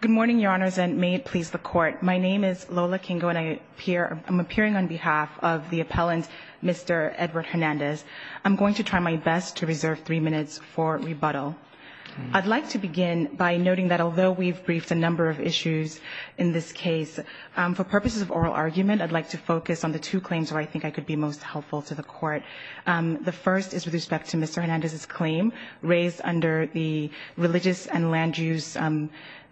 Good morning, Your Honors, and may it please the Court. My name is Lola Kingo, and I'm appearing on behalf of the appellant, Mr. Edward Hernandez. I'm going to try my best to reserve three minutes for rebuttal. I'd like to begin by noting that although we've briefed a number of issues in this case, for purposes of oral argument, I'd like to focus on the two claims where I think I could be most helpful to the Court. The first is with respect to Mr. Hernandez's claim raised under the Religious and Land Use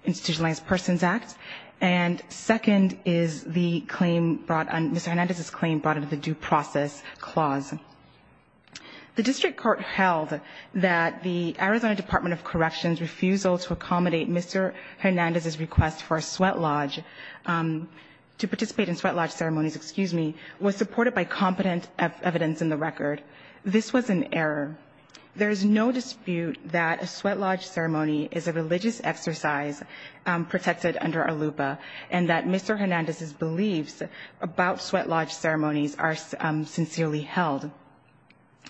Institutionalized Persons Act. And second is the claim brought – Mr. Hernandez's claim brought under the Due Process Clause. The district court held that the Arizona Department of Corrections' refusal to accommodate Mr. Hernandez's request for a sweat lodge – to participate in sweat lodge ceremonies, excuse me – was supported by competent evidence in the record. This was an error. There is no dispute that a sweat lodge ceremony is a religious exercise protected under ALUPA, and that Mr. Hernandez's beliefs about sweat lodge ceremonies are sincerely held.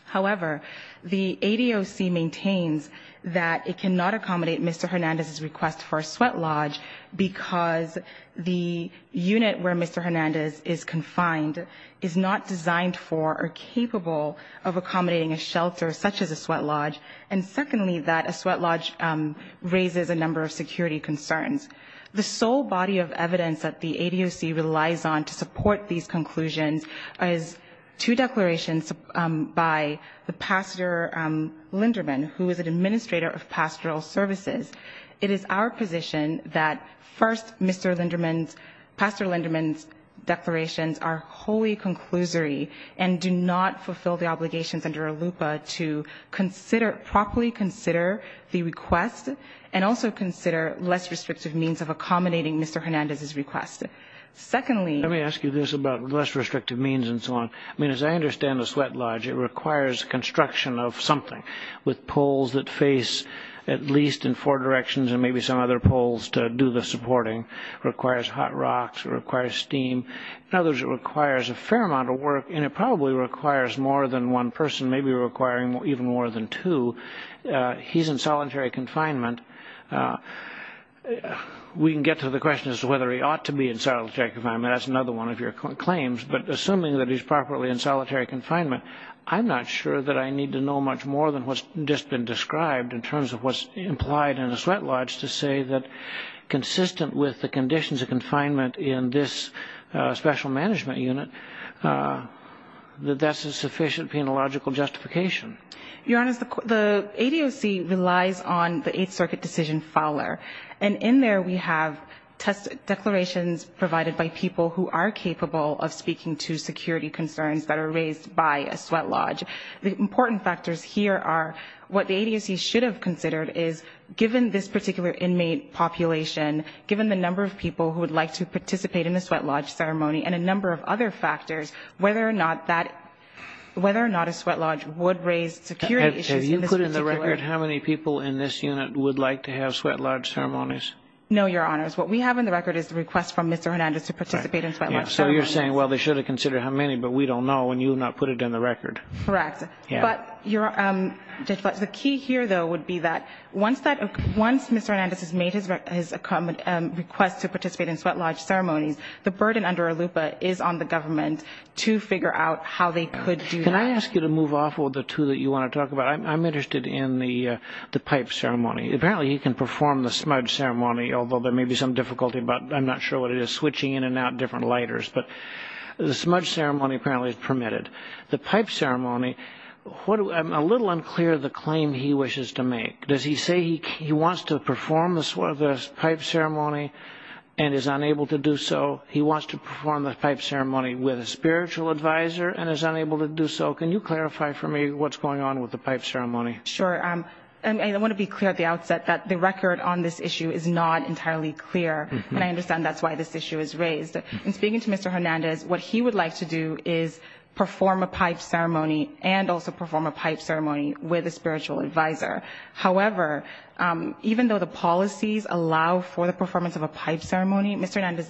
However, the ADOC maintains that it cannot accommodate Mr. Hernandez's request for a sweat lodge because the unit where Mr. Hernandez is confined is not designed for or capable of accommodating a shelter such as a sweat lodge, and secondly, that a sweat lodge raises a number of security concerns. The sole body of evidence that the ADOC relies on to support these conclusions is two declarations by the Pastor Linderman, who is an administrator of pastoral services. It is our position that first, Mr. Linderman's – Pastor Linderman's declarations are wholly conclusory and do not fulfill the obligations under ALUPA to properly consider the request and also consider less restrictive means of accommodating Mr. Hernandez's request. Secondly – Let me ask you this about less restrictive means and so on. I mean, as I understand the sweat lodge, it requires construction of something with poles that face at least in four directions and maybe some other poles to do the supporting. It requires hot rocks. It requires steam. In other words, it requires a fair amount of work, and it probably requires more than one person, maybe requiring even more than two. He's in solitary confinement. We can get to the question as to whether he ought to be in solitary confinement. That's another one of your claims. But assuming that he's properly in solitary confinement, I'm not sure that I need to know much more than what's just been described in terms of what's implied in a sweat lodge to say that consistent with the conditions of confinement in this special management unit, that that's a sufficient penological justification. Your Honor, the ADOC relies on the Eighth Circuit decision fowler, and in there we have declarations provided by people who are capable of speaking to security concerns that are raised by a sweat lodge. The important factors here are what the ADOC should have considered is given this particular inmate population, given the number of people who would like to participate in the sweat lodge ceremony, and a number of other factors, whether or not a sweat lodge would raise security issues. Have you put in the record how many people in this unit would like to have sweat lodge ceremonies? No, Your Honors. What we have in the record is the request from Mr. Hernandez to participate in sweat lodge ceremonies. So you're saying, well, they should have considered how many, but we don't know and you have not put it in the record. Correct. But the key here, though, would be that once Mr. Hernandez has made his request to participate in sweat lodge ceremonies, the burden under ALUPA is on the government to figure out how they could do that. Can I ask you to move off of the two that you want to talk about? I'm interested in the pipe ceremony. Apparently you can perform the smudge ceremony, although there may be some difficulty about, I'm not sure what it is, switching in and out different lighters. But the smudge ceremony apparently is permitted. The pipe ceremony, I'm a little unclear of the claim he wishes to make. Does he say he wants to perform the pipe ceremony and is unable to do so? He wants to perform the pipe ceremony with a spiritual advisor and is unable to do so. Can you clarify for me what's going on with the pipe ceremony? Sure. I want to be clear at the outset that the record on this issue is not entirely clear, and I understand that's why this issue is raised. In speaking to Mr. Hernandez, what he would like to do is perform a pipe ceremony and also perform a pipe ceremony with a spiritual advisor. However, even though the policies allow for the performance of a pipe ceremony, Mr. Hernandez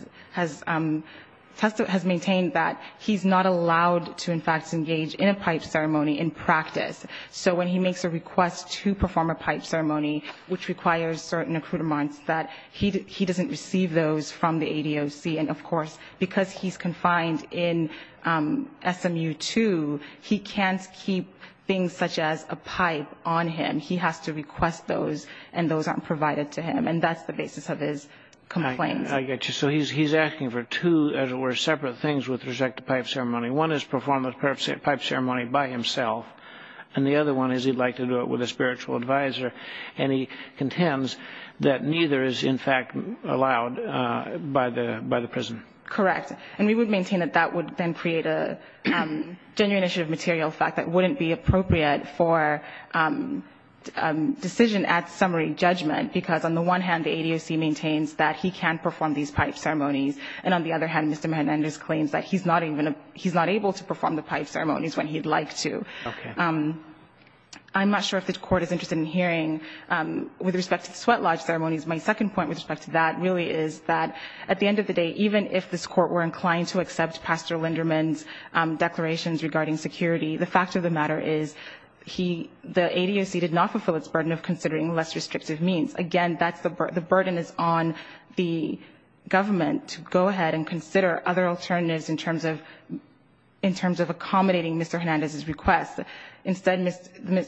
has maintained that he's not allowed to, in fact, engage in a pipe ceremony in practice. So when he makes a request to perform a pipe ceremony, which requires certain accoutrements, that he doesn't receive those from the ADOC. And, of course, because he's confined in SMU 2, he can't keep things such as a pipe on him. He has to request those, and those aren't provided to him. And that's the basis of his complaint. I get you. So he's asking for two, as it were, separate things with respect to pipe ceremony. One is perform a pipe ceremony by himself, and the other one is he'd like to do it with a spiritual advisor. And he contends that neither is, in fact, allowed by the prison. Correct. And we would maintain that that would then create a genuine issue of material fact that wouldn't be appropriate for decision at summary judgment, because on the one hand the ADOC maintains that he can perform these pipe ceremonies, and on the other hand Mr. Hernandez claims that he's not able to perform the pipe ceremonies when he'd like to. Okay. I'm not sure if the Court is interested in hearing with respect to the sweat lodge ceremonies. My second point with respect to that really is that at the end of the day, even if this Court were inclined to accept Pastor Linderman's declarations regarding security, the fact of the matter is the ADOC did not fulfill its burden of considering less restrictive means. Again, the burden is on the government to go ahead and consider other alternatives in terms of accommodating Mr. Hernandez's request. Instead,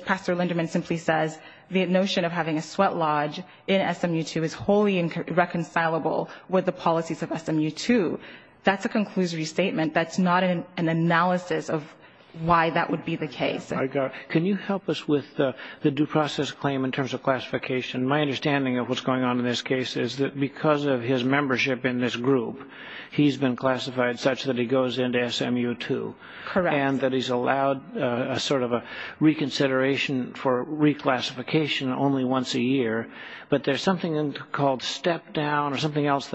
Pastor Linderman simply says the notion of having a sweat lodge in SMU 2 is wholly irreconcilable with the policies of SMU 2. That's a conclusory statement. That's not an analysis of why that would be the case. Can you help us with the due process claim in terms of classification? My understanding of what's going on in this case is that because of his membership in this group, he's been classified such that he goes into SMU 2. Correct. And that he's allowed a sort of a reconsideration for reclassification only once a year. But there's something called step down or something else.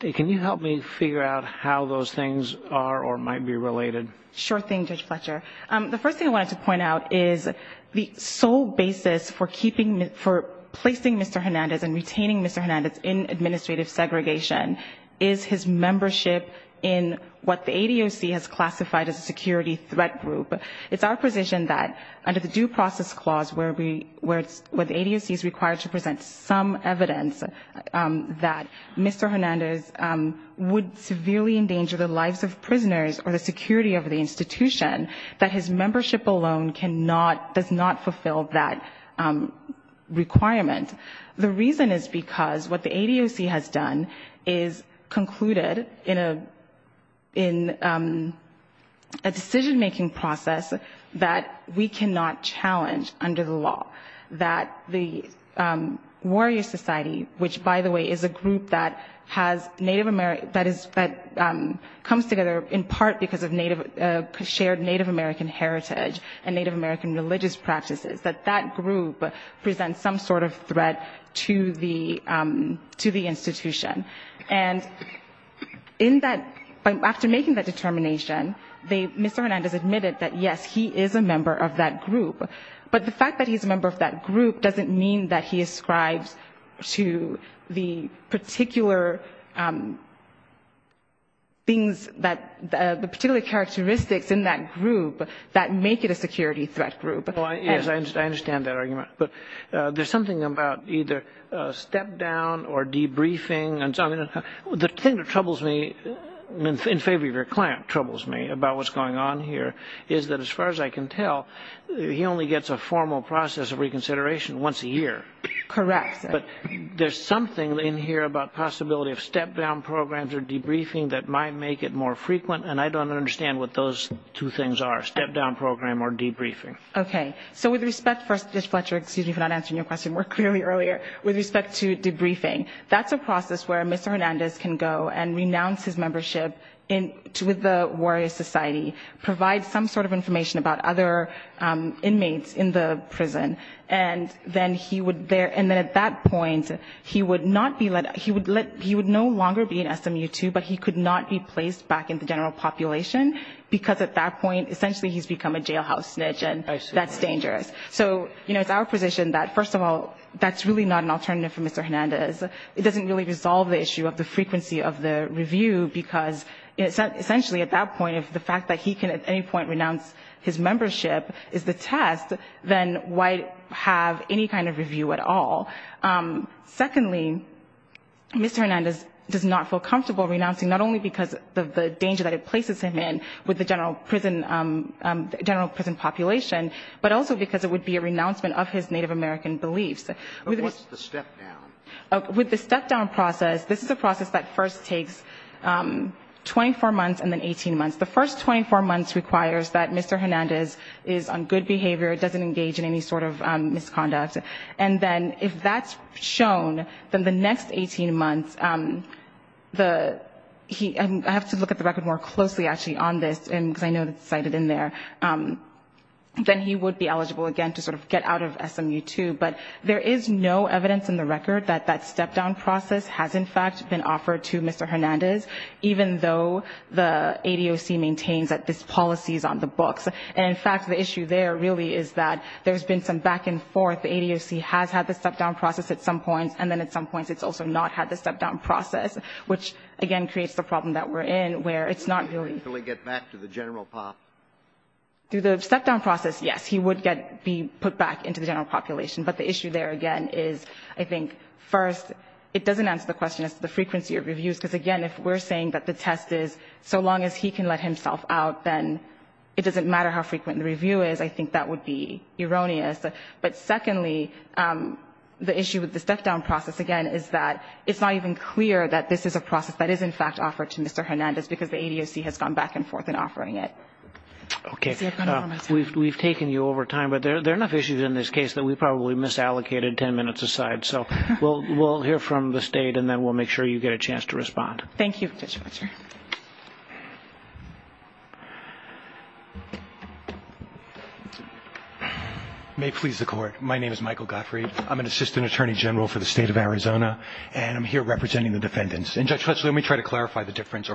Can you help me figure out how those things are or might be related? Sure thing, Judge Fletcher. The first thing I wanted to point out is the sole basis for placing Mr. Hernandez and retaining Mr. Hernandez in administrative segregation is his membership in what the ADOC has classified as a security threat group. It's our position that under the due process clause where the ADOC is required to present some evidence that Mr. Hernandez would severely endanger the lives of prisoners or the security of the institution, that his membership alone does not fulfill that requirement. The reason is because what the ADOC has done is concluded in a decision-making process that we cannot challenge under the law. That the Warrior Society, which, by the way, is a group that has Native American, that comes together in part because of shared Native American heritage and Native American religious practices, that that group presents some sort of threat to the institution. And in that, after making that determination, Mr. Hernandez admitted that, yes, he is a member of that group. But the fact that he's a member of that group doesn't mean that he ascribes to the particular things that, the particular characteristics in that group that make it a security threat group. Yes, I understand that argument. But there's something about either step-down or debriefing. The thing that troubles me, in favor of your client troubles me about what's going on here, is that as far as I can tell, he only gets a formal process of reconsideration once a year. Correct. But there's something in here about possibility of step-down programs or debriefing that might make it more frequent, and I don't understand what those two things are, step-down program or debriefing. Okay. So with respect, Mr. Fletcher, excuse me for not answering your question more clearly earlier, with respect to debriefing, that's a process where Mr. Hernandez can go and renounce his membership with the Warrior Society, provide some sort of information about other inmates in the prison. And then at that point, he would no longer be an SMU-2, but he could not be placed back in the general population, because at that point essentially he's become a jailhouse snitch and that's dangerous. So it's our position that, first of all, that's really not an alternative for Mr. Hernandez. It doesn't really resolve the issue of the frequency of the review, because essentially at that point, if the fact that he can at any point renounce his membership is the test, then why have any kind of review at all? Secondly, Mr. Hernandez does not feel comfortable renouncing, not only because of the danger that it places him in with the general prison population, but also because it would be a renouncement of his Native American beliefs. What's the step-down? With the step-down process, this is a process that first takes 24 months and then 18 months. The first 24 months requires that Mr. Hernandez is on good behavior, doesn't engage in any sort of misconduct. And then if that's shown, then the next 18 months, I have to look at the record more closely actually on this, because I know it's cited in there, then he would be eligible again to sort of get out of SMU-2. But there is no evidence in the record that that step-down process has in fact been offered to Mr. Hernandez, even though the ADOC maintains that this policy is on the books. And, in fact, the issue there really is that there's been some back and forth. The ADOC has had the step-down process at some points, and then at some points it's also not had the step-down process, which, again, creates the problem that we're in, where it's not really ---- Can he actually get back to the general population? Through the step-down process, yes, he would be put back into the general population. But the issue there, again, is, I think, first, it doesn't answer the question as to the frequency of reviews, because, again, if we're saying that the test is so long as he can let himself out, then it doesn't matter how frequent the review is. I think that would be erroneous. But, secondly, the issue with the step-down process, again, is that it's not even clear that this is a process that is in fact offered to Mr. Hernandez because the ADOC has gone back and forth in offering it. Okay. We've taken you over time, but there are enough issues in this case that we probably misallocated 10 minutes aside. So we'll hear from the State, and then we'll make sure you get a chance to respond. Thank you, Judge Fletcher. May it please the Court, my name is Michael Gottfried. I'm an Assistant Attorney General for the State of Arizona, and I'm here representing the defendants. And, Judge Fletcher, let me try to clarify the difference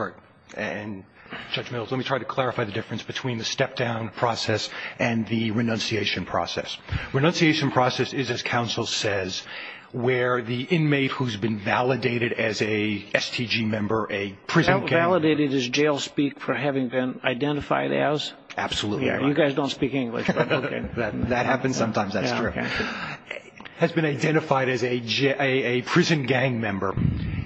between the step-down process and the renunciation process. Renunciation process is, as counsel says, where the inmate who's been validated as a STG member, a prison gang member. Validated as jail speak for having been identified as? Absolutely. You guys don't speak English, but okay. That happens sometimes. That's true. Has been identified as a prison gang member.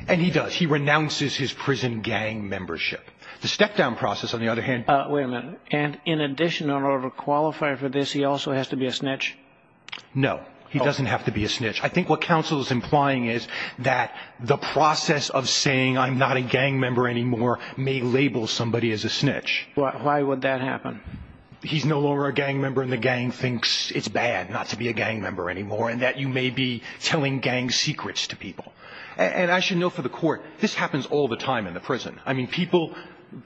And he does. He renounces his prison gang membership. The step-down process, on the other hand. Wait a minute. And in addition, in order to qualify for this, he also has to be a snitch? No. He doesn't have to be a snitch. I think what counsel is implying is that the process of saying, I'm not a gang member anymore, may label somebody as a snitch. Why would that happen? He's no longer a gang member, and the gang thinks it's bad not to be a gang member anymore, and that you may be telling gang secrets to people. And I should note for the Court, this happens all the time in the prison. I mean, people,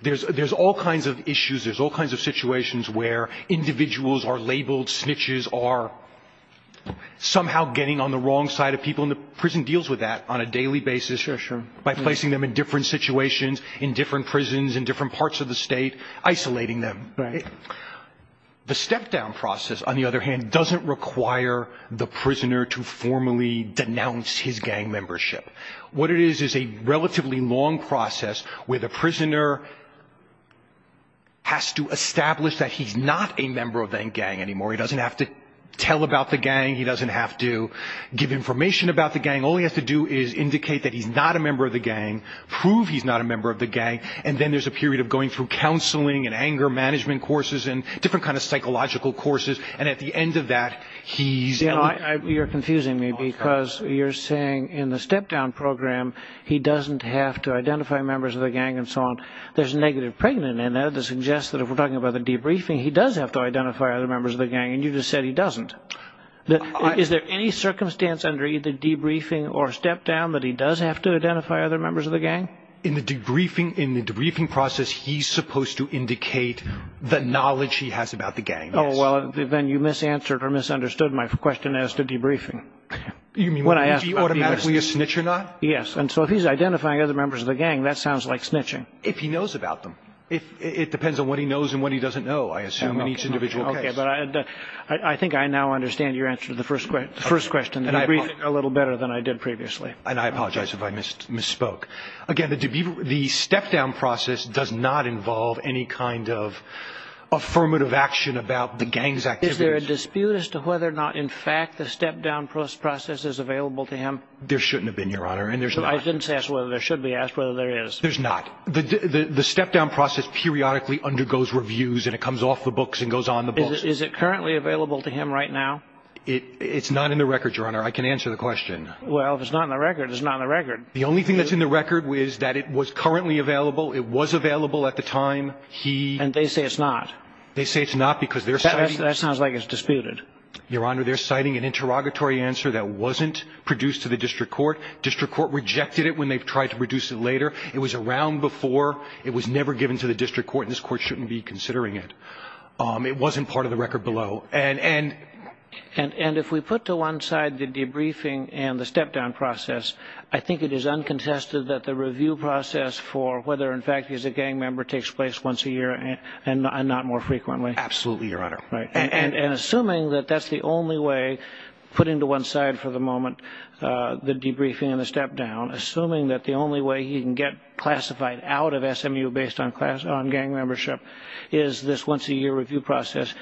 there's all kinds of issues, there's all kinds of situations where individuals are labeled snitches, are somehow getting on the wrong side of people, and the prison deals with that on a daily basis. Sure, sure. By placing them in different situations, in different prisons, in different parts of the state, isolating them. Right. The step-down process, on the other hand, doesn't require the prisoner to formally denounce his gang membership. What it is is a relatively long process where the prisoner has to establish that he's not a member of that gang anymore. He doesn't have to tell about the gang. He doesn't have to give information about the gang. All he has to do is indicate that he's not a member of the gang, prove he's not a member of the gang, and then there's a period of going through counseling and anger management courses and different kinds of psychological courses, and at the end of that, he's eliminated. You're confusing me because you're saying in the step-down program, he doesn't have to identify members of the gang and so on. There's negative pregnancy, and that suggests that if we're talking about the debriefing, he does have to identify other members of the gang, and you just said he doesn't. Is there any circumstance under either debriefing or step-down that he does have to identify other members of the gang? In the debriefing process, he's supposed to indicate the knowledge he has about the gang. Oh, well, then you misanswered or misunderstood my question as to debriefing. You mean, would he be automatically a snitch or not? Yes, and so if he's identifying other members of the gang, that sounds like snitching. If he knows about them. It depends on what he knows and what he doesn't know, I assume, in each individual case. Okay, but I think I now understand your answer to the first question, the debriefing, a little better than I did previously. And I apologize if I misspoke. Again, the step-down process does not involve any kind of affirmative action about the gang's activities. Is there a dispute as to whether or not, in fact, the step-down process is available to him? There shouldn't have been, Your Honor, and there's not. I didn't ask whether there should be, I asked whether there is. There's not. The step-down process periodically undergoes reviews, and it comes off the books and goes on the books. Is it currently available to him right now? It's not in the record, Your Honor. I can answer the question. Well, if it's not in the record, it's not in the record. The only thing that's in the record is that it was currently available. It was available at the time he ---- And they say it's not. They say it's not because they're citing ---- That sounds like it's disputed. Your Honor, they're citing an interrogatory answer that wasn't produced to the district court. District court rejected it when they tried to produce it later. It was around before. It was never given to the district court, and this court shouldn't be considering it. It wasn't part of the record below. And if we put to one side the debriefing and the step-down process, I think it is uncontested that the review process for whether, in fact, he's a gang member takes place once a year and not more frequently. Absolutely, Your Honor. And assuming that that's the only way, putting to one side for the moment the debriefing and the step-down, assuming that the only way he can get classified out of SMU based on gang membership is this once-a-year review process,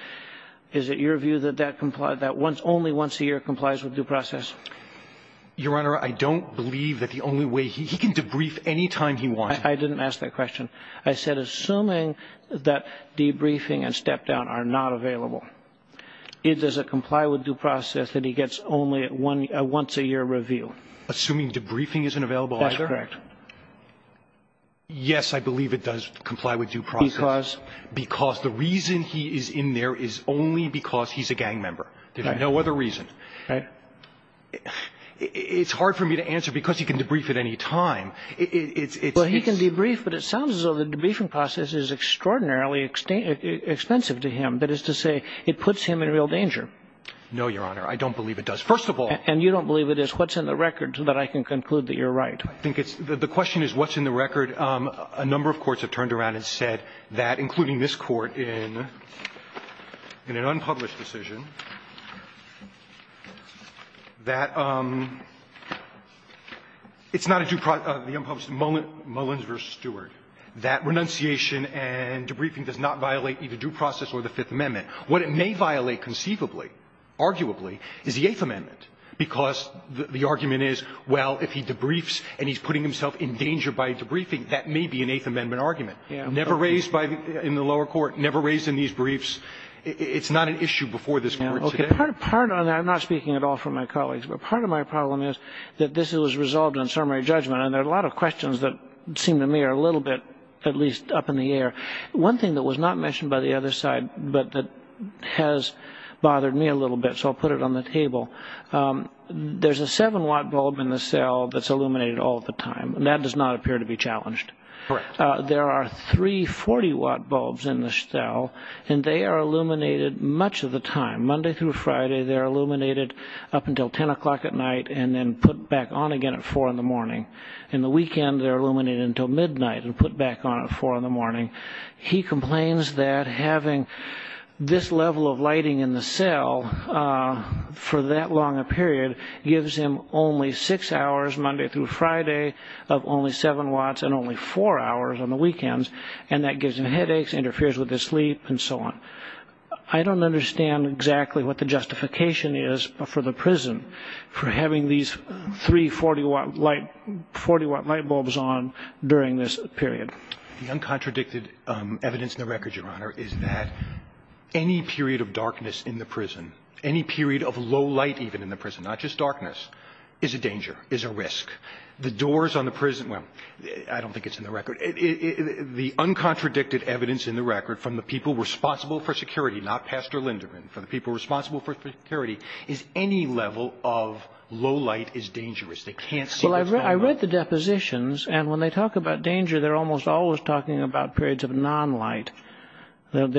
is it your view that that only once a year complies with due process? Your Honor, I don't believe that the only way he can debrief any time he wants. I didn't ask that question. I said assuming that debriefing and step-down are not available, does it comply with due process that he gets only a once-a-year review? Assuming debriefing isn't available either? That's correct. Yes, I believe it does comply with due process. Because? Because the reason he is in there is only because he's a gang member. There's no other reason. Right. It's hard for me to answer because he can debrief at any time. Well, he can debrief, but it sounds as though the debriefing process is extraordinarily expensive to him. That is to say, it puts him in real danger. No, Your Honor. I don't believe it does, first of all. And you don't believe it is? What's in the record so that I can conclude that you're right? I think it's the question is what's in the record. A number of courts have turned around and said that, including this Court in an unpublished decision, that it's not a due process, the unpublished, Mullins v. Stewart, that renunciation and debriefing does not violate either due process or the Fifth Amendment. What it may violate conceivably, arguably, is the Eighth Amendment, because the argument is, well, if he debriefs and he's putting himself in danger by debriefing, that may be an Eighth Amendment argument. Yeah. Never raised in the lower court, never raised in these briefs. It's not an issue before this Court today. Okay. Part of my problem is that this was resolved on summary judgment, and there are a lot of questions that seem to me are a little bit at least up in the air. One thing that was not mentioned by the other side but that has bothered me a little bit, so I'll put it on the table, there's a 7-watt bulb in the cell that's illuminated all the time, and that does not appear to be challenged. Correct. There are three 40-watt bulbs in the cell, and they are illuminated much of the time. Monday through Friday, they're illuminated up until 10 o'clock at night and then put back on again at 4 in the morning. In the weekend, they're illuminated until midnight and put back on at 4 in the morning. He complains that having this level of lighting in the cell for that long a period gives him only 6 hours, Monday through Friday, of only 7 watts and only 4 hours on the weekends, and that gives him headaches, interferes with his sleep, and so on. I don't understand exactly what the justification is for the prison for having these three 40-watt light bulbs on during this period. The uncontradicted evidence in the record, Your Honor, is that any period of darkness in the prison, any period of low light even in the prison, not just darkness, is a danger, is a risk. The doors on the prison, well, I don't think it's in the record. The uncontradicted evidence in the record from the people responsible for security, not Pastor Linderman, from the people responsible for security, is any level of low light is dangerous. They can't see what's going on. I read the depositions, and when they talk about danger, they're almost always talking about periods of non-light, and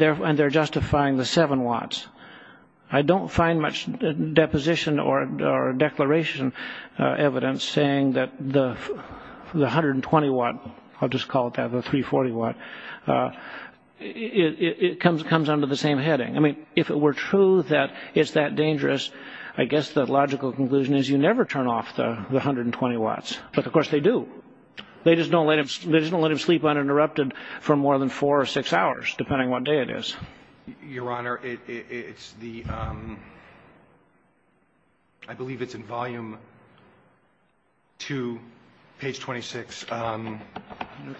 they're justifying the 7 watts. I don't find much deposition or declaration evidence saying that the 120-watt, I'll just call it that, the 340-watt, it comes under the same heading. I mean, if it were true that it's that dangerous, I guess the logical conclusion is you never turn off the 120 watts. But, of course, they do. They just don't let him sleep uninterrupted for more than four or six hours, depending on what day it is. Your Honor, it's the, I believe it's in volume 2, page 26. Okay.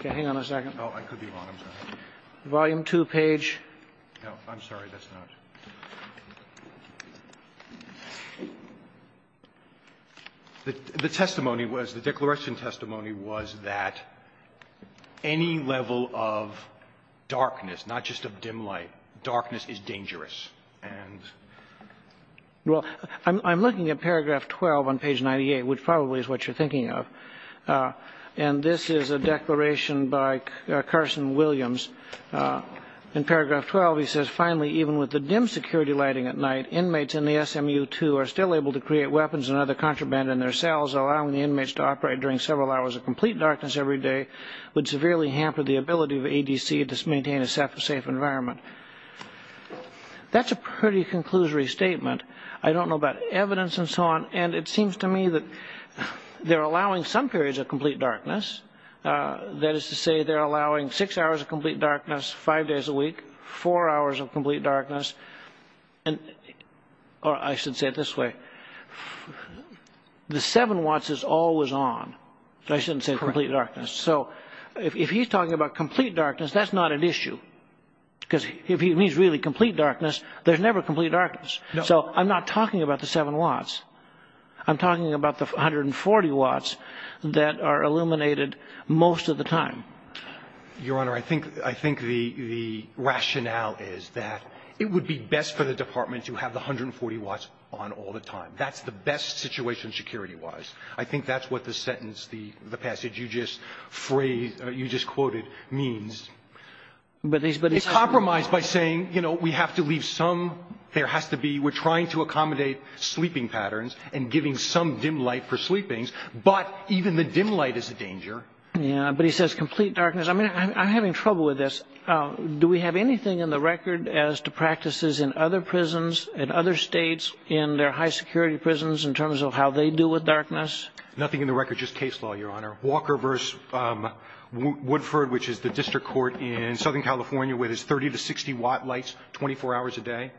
Hang on a second. Oh, I could be wrong. I'm sorry. Volume 2 page. No, I'm sorry. That's not. The testimony was, the declaration testimony was that any level of darkness, not just of dim light, darkness is dangerous. Well, I'm looking at paragraph 12 on page 98, which probably is what you're thinking of, and this is a declaration by Carson Williams. In paragraph 12, he says, finally, even with the dim security lighting at night, inmates in the SMU-2 are still able to create weapons and other contraband in their cells, allowing the inmates to operate during several hours of complete darkness every day would severely hamper the ability of ADC to maintain a safe environment. That's a pretty conclusory statement. I don't know about evidence and so on, and it seems to me that they're allowing some hours of complete darkness, five days a week, four hours of complete darkness, or I should say it this way, the seven watts is always on. I shouldn't say complete darkness. Correct. So if he's talking about complete darkness, that's not an issue, because if he means really complete darkness, there's never complete darkness. No. So I'm not talking about the seven watts. I'm talking about the 140 watts that are illuminated most of the time. Your Honor, I think the rationale is that it would be best for the department to have the 140 watts on all the time. That's the best situation security-wise. I think that's what the sentence, the passage you just quoted means. But it's true. It's compromised by saying, you know, we have to leave some, there has to be, we're trying to accommodate sleeping patterns and giving some dim light for sleepings, but even the dim light is a danger. Yeah. But he says complete darkness. I mean, I'm having trouble with this. Do we have anything in the record as to practices in other prisons, in other states, in their high-security prisons, in terms of how they deal with darkness? Nothing in the record, just case law, Your Honor. Walker v. Woodford, which is the district court in Southern California with its 30-60 watt lights, 24 hours a day.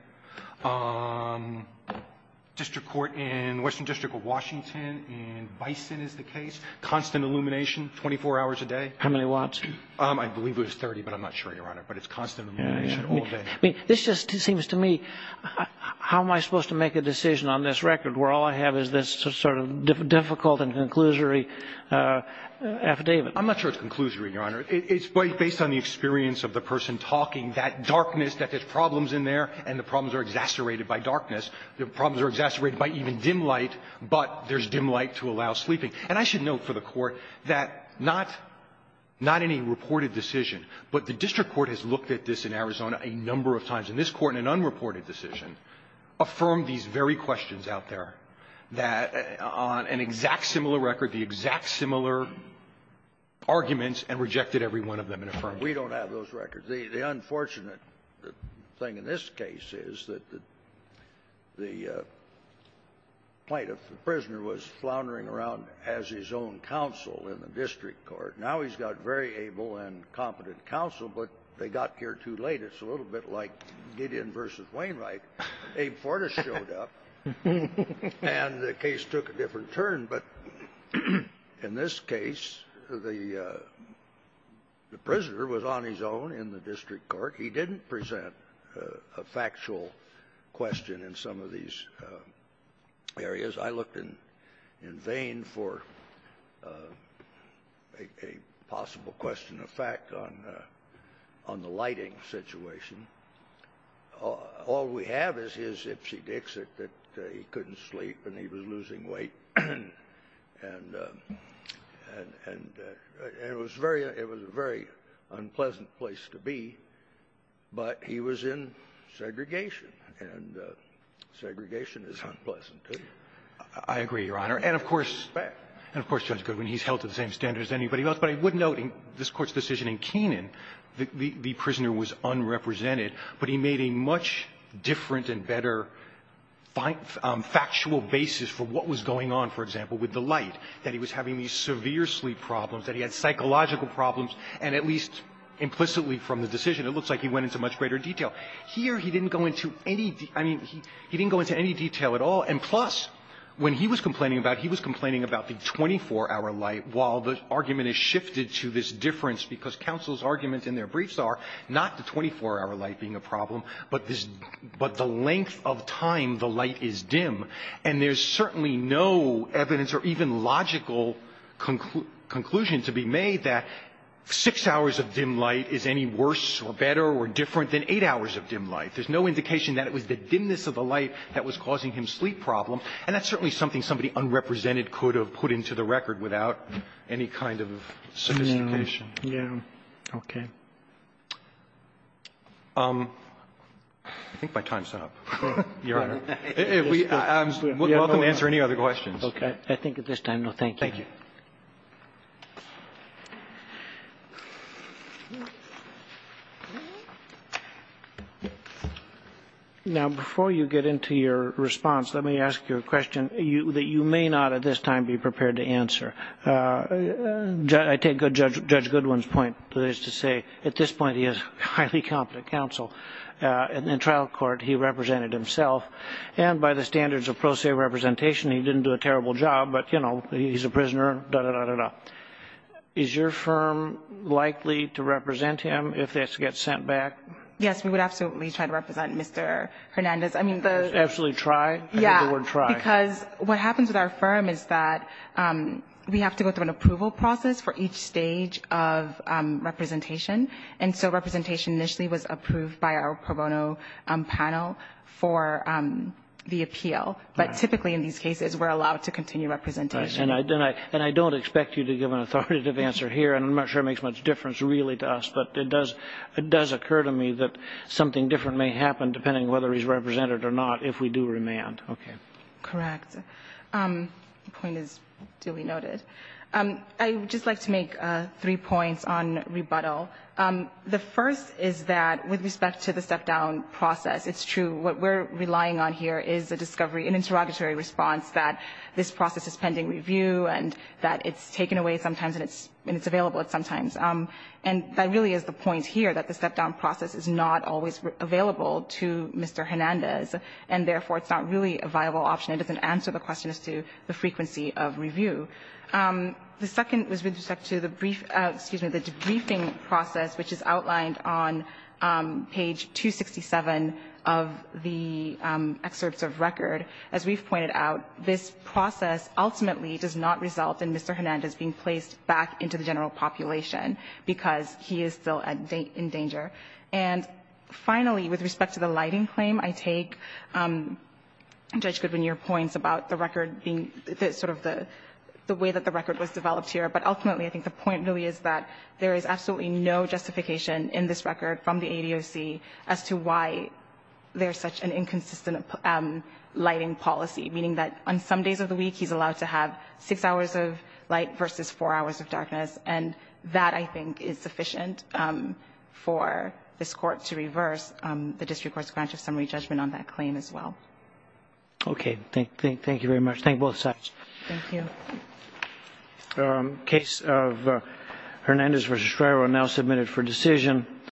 District court in Western District of Washington in Bison is the case. Constant illumination, 24 hours a day. How many watts? I believe it was 30, but I'm not sure, Your Honor. But it's constant illumination all day. I mean, this just seems to me, how am I supposed to make a decision on this record where all I have is this sort of difficult and conclusory affidavit? I'm not sure it's conclusory, Your Honor. It's based on the experience of the person talking, that darkness, that there's problems in there, and the problems are exacerbated by darkness. The problems are exacerbated by even dim light, but there's dim light to allow sleeping. And I should note for the Court that not any reported decision, but the district court has looked at this in Arizona a number of times. And this Court, in an unreported decision, affirmed these very questions out there that on an exact similar record, the exact similar arguments, and rejected every one of them and affirmed them. We don't have those records. The unfortunate thing in this case is that the plaintiff, the prisoner, was floundering around as his own counsel in the district court. Now he's got very able and competent counsel, but they got here too late. It's a little bit like Gideon v. Wainwright. Abe Fortas showed up, and the case took a different turn. But in this case, the prisoner was on his own in the district court. He didn't present a factual question in some of these areas. I looked in vain for a possible question of fact on the lighting situation. All we have is his ipsy dixit that he couldn't sleep and he was losing weight. And it was a very unpleasant place to be. But he was in segregation, and segregation is unpleasant too. I agree, Your Honor. And of course, Judge Goodwin, he's held to the same standards as anybody else. But I would note in this Court's decision in Kenan, the prisoner was unrepresented. But he made a much different and better factual basis for what was going on, for example, with the light, that he was having these severe sleep problems, that he had psychological problems, and at least implicitly from the decision, it looks like he went into much greater detail. Here, he didn't go into any detail. I mean, he didn't go into any detail at all. And plus, when he was complaining about it, he was complaining about the 24-hour light while the argument is shifted to this difference because counsel's arguments in their briefs are not the 24-hour light being a problem, but the length of time the light is dim. And there's certainly no evidence or even logical conclusion to be made that 6 hours of dim light is any worse or better or different than 8 hours of dim light. There's no indication that it was the dimness of the light that was causing him sleep problem, and that's certainly something somebody unrepresented could have put into the record without any kind of sophistication. Yeah. Okay. I think my time's up, Your Honor. You're welcome to answer any other questions. Okay. I think at this time, no, thank you. Thank you. Now, before you get into your response, let me ask you a question that you may not at this time be prepared to answer. I take Judge Goodwin's point, that is to say, at this point, he has highly competent counsel. In trial court, he represented himself. And by the standards of pro se representation, he didn't do a terrible job, but, you know, I don't know. Is your firm likely to represent him if this gets sent back? Yes, we would absolutely try to represent Mr. Hernandez. Absolutely try? Yeah. I hear the word try. Because what happens with our firm is that we have to go through an approval process for each stage of representation. And so representation initially was approved by our pro bono panel for the appeal. But typically in these cases, we're allowed to continue representation. Right. And I don't expect you to give an authoritative answer here. I'm not sure it makes much difference, really, to us. But it does occur to me that something different may happen, depending on whether he's represented or not, if we do remand. Okay. Correct. The point is duly noted. I would just like to make three points on rebuttal. The first is that with respect to the step-down process, it's true. What we're relying on here is a discovery, an interrogatory response that this process is pending review and that it's taken away sometimes and it's available at some times. And that really is the point here, that the step-down process is not always available to Mr. Hernandez. And therefore, it's not really a viable option. It doesn't answer the question as to the frequency of review. The second is with respect to the debriefing process, which is outlined on page 267 of the excerpts of record. As we've pointed out, this process ultimately does not result in Mr. Hernandez being placed back into the general population because he is still in danger. And finally, with respect to the lighting claim, I take Judge Goodwin, your points about the record being sort of the way that the record was developed here. But ultimately, I think the point really is that there is absolutely no justification in this record from the ADOC as to why there's such an inconsistent lighting policy, meaning that on some days of the week, he's allowed to have six hours of light versus four hours of darkness. And that, I think, is sufficient for this Court to reverse the district court's grant of summary judgment on that claim as well. Okay. Thank you very much. Thank you both sides. Thank you. The case of Hernandez v. Estrella now submitted for decision.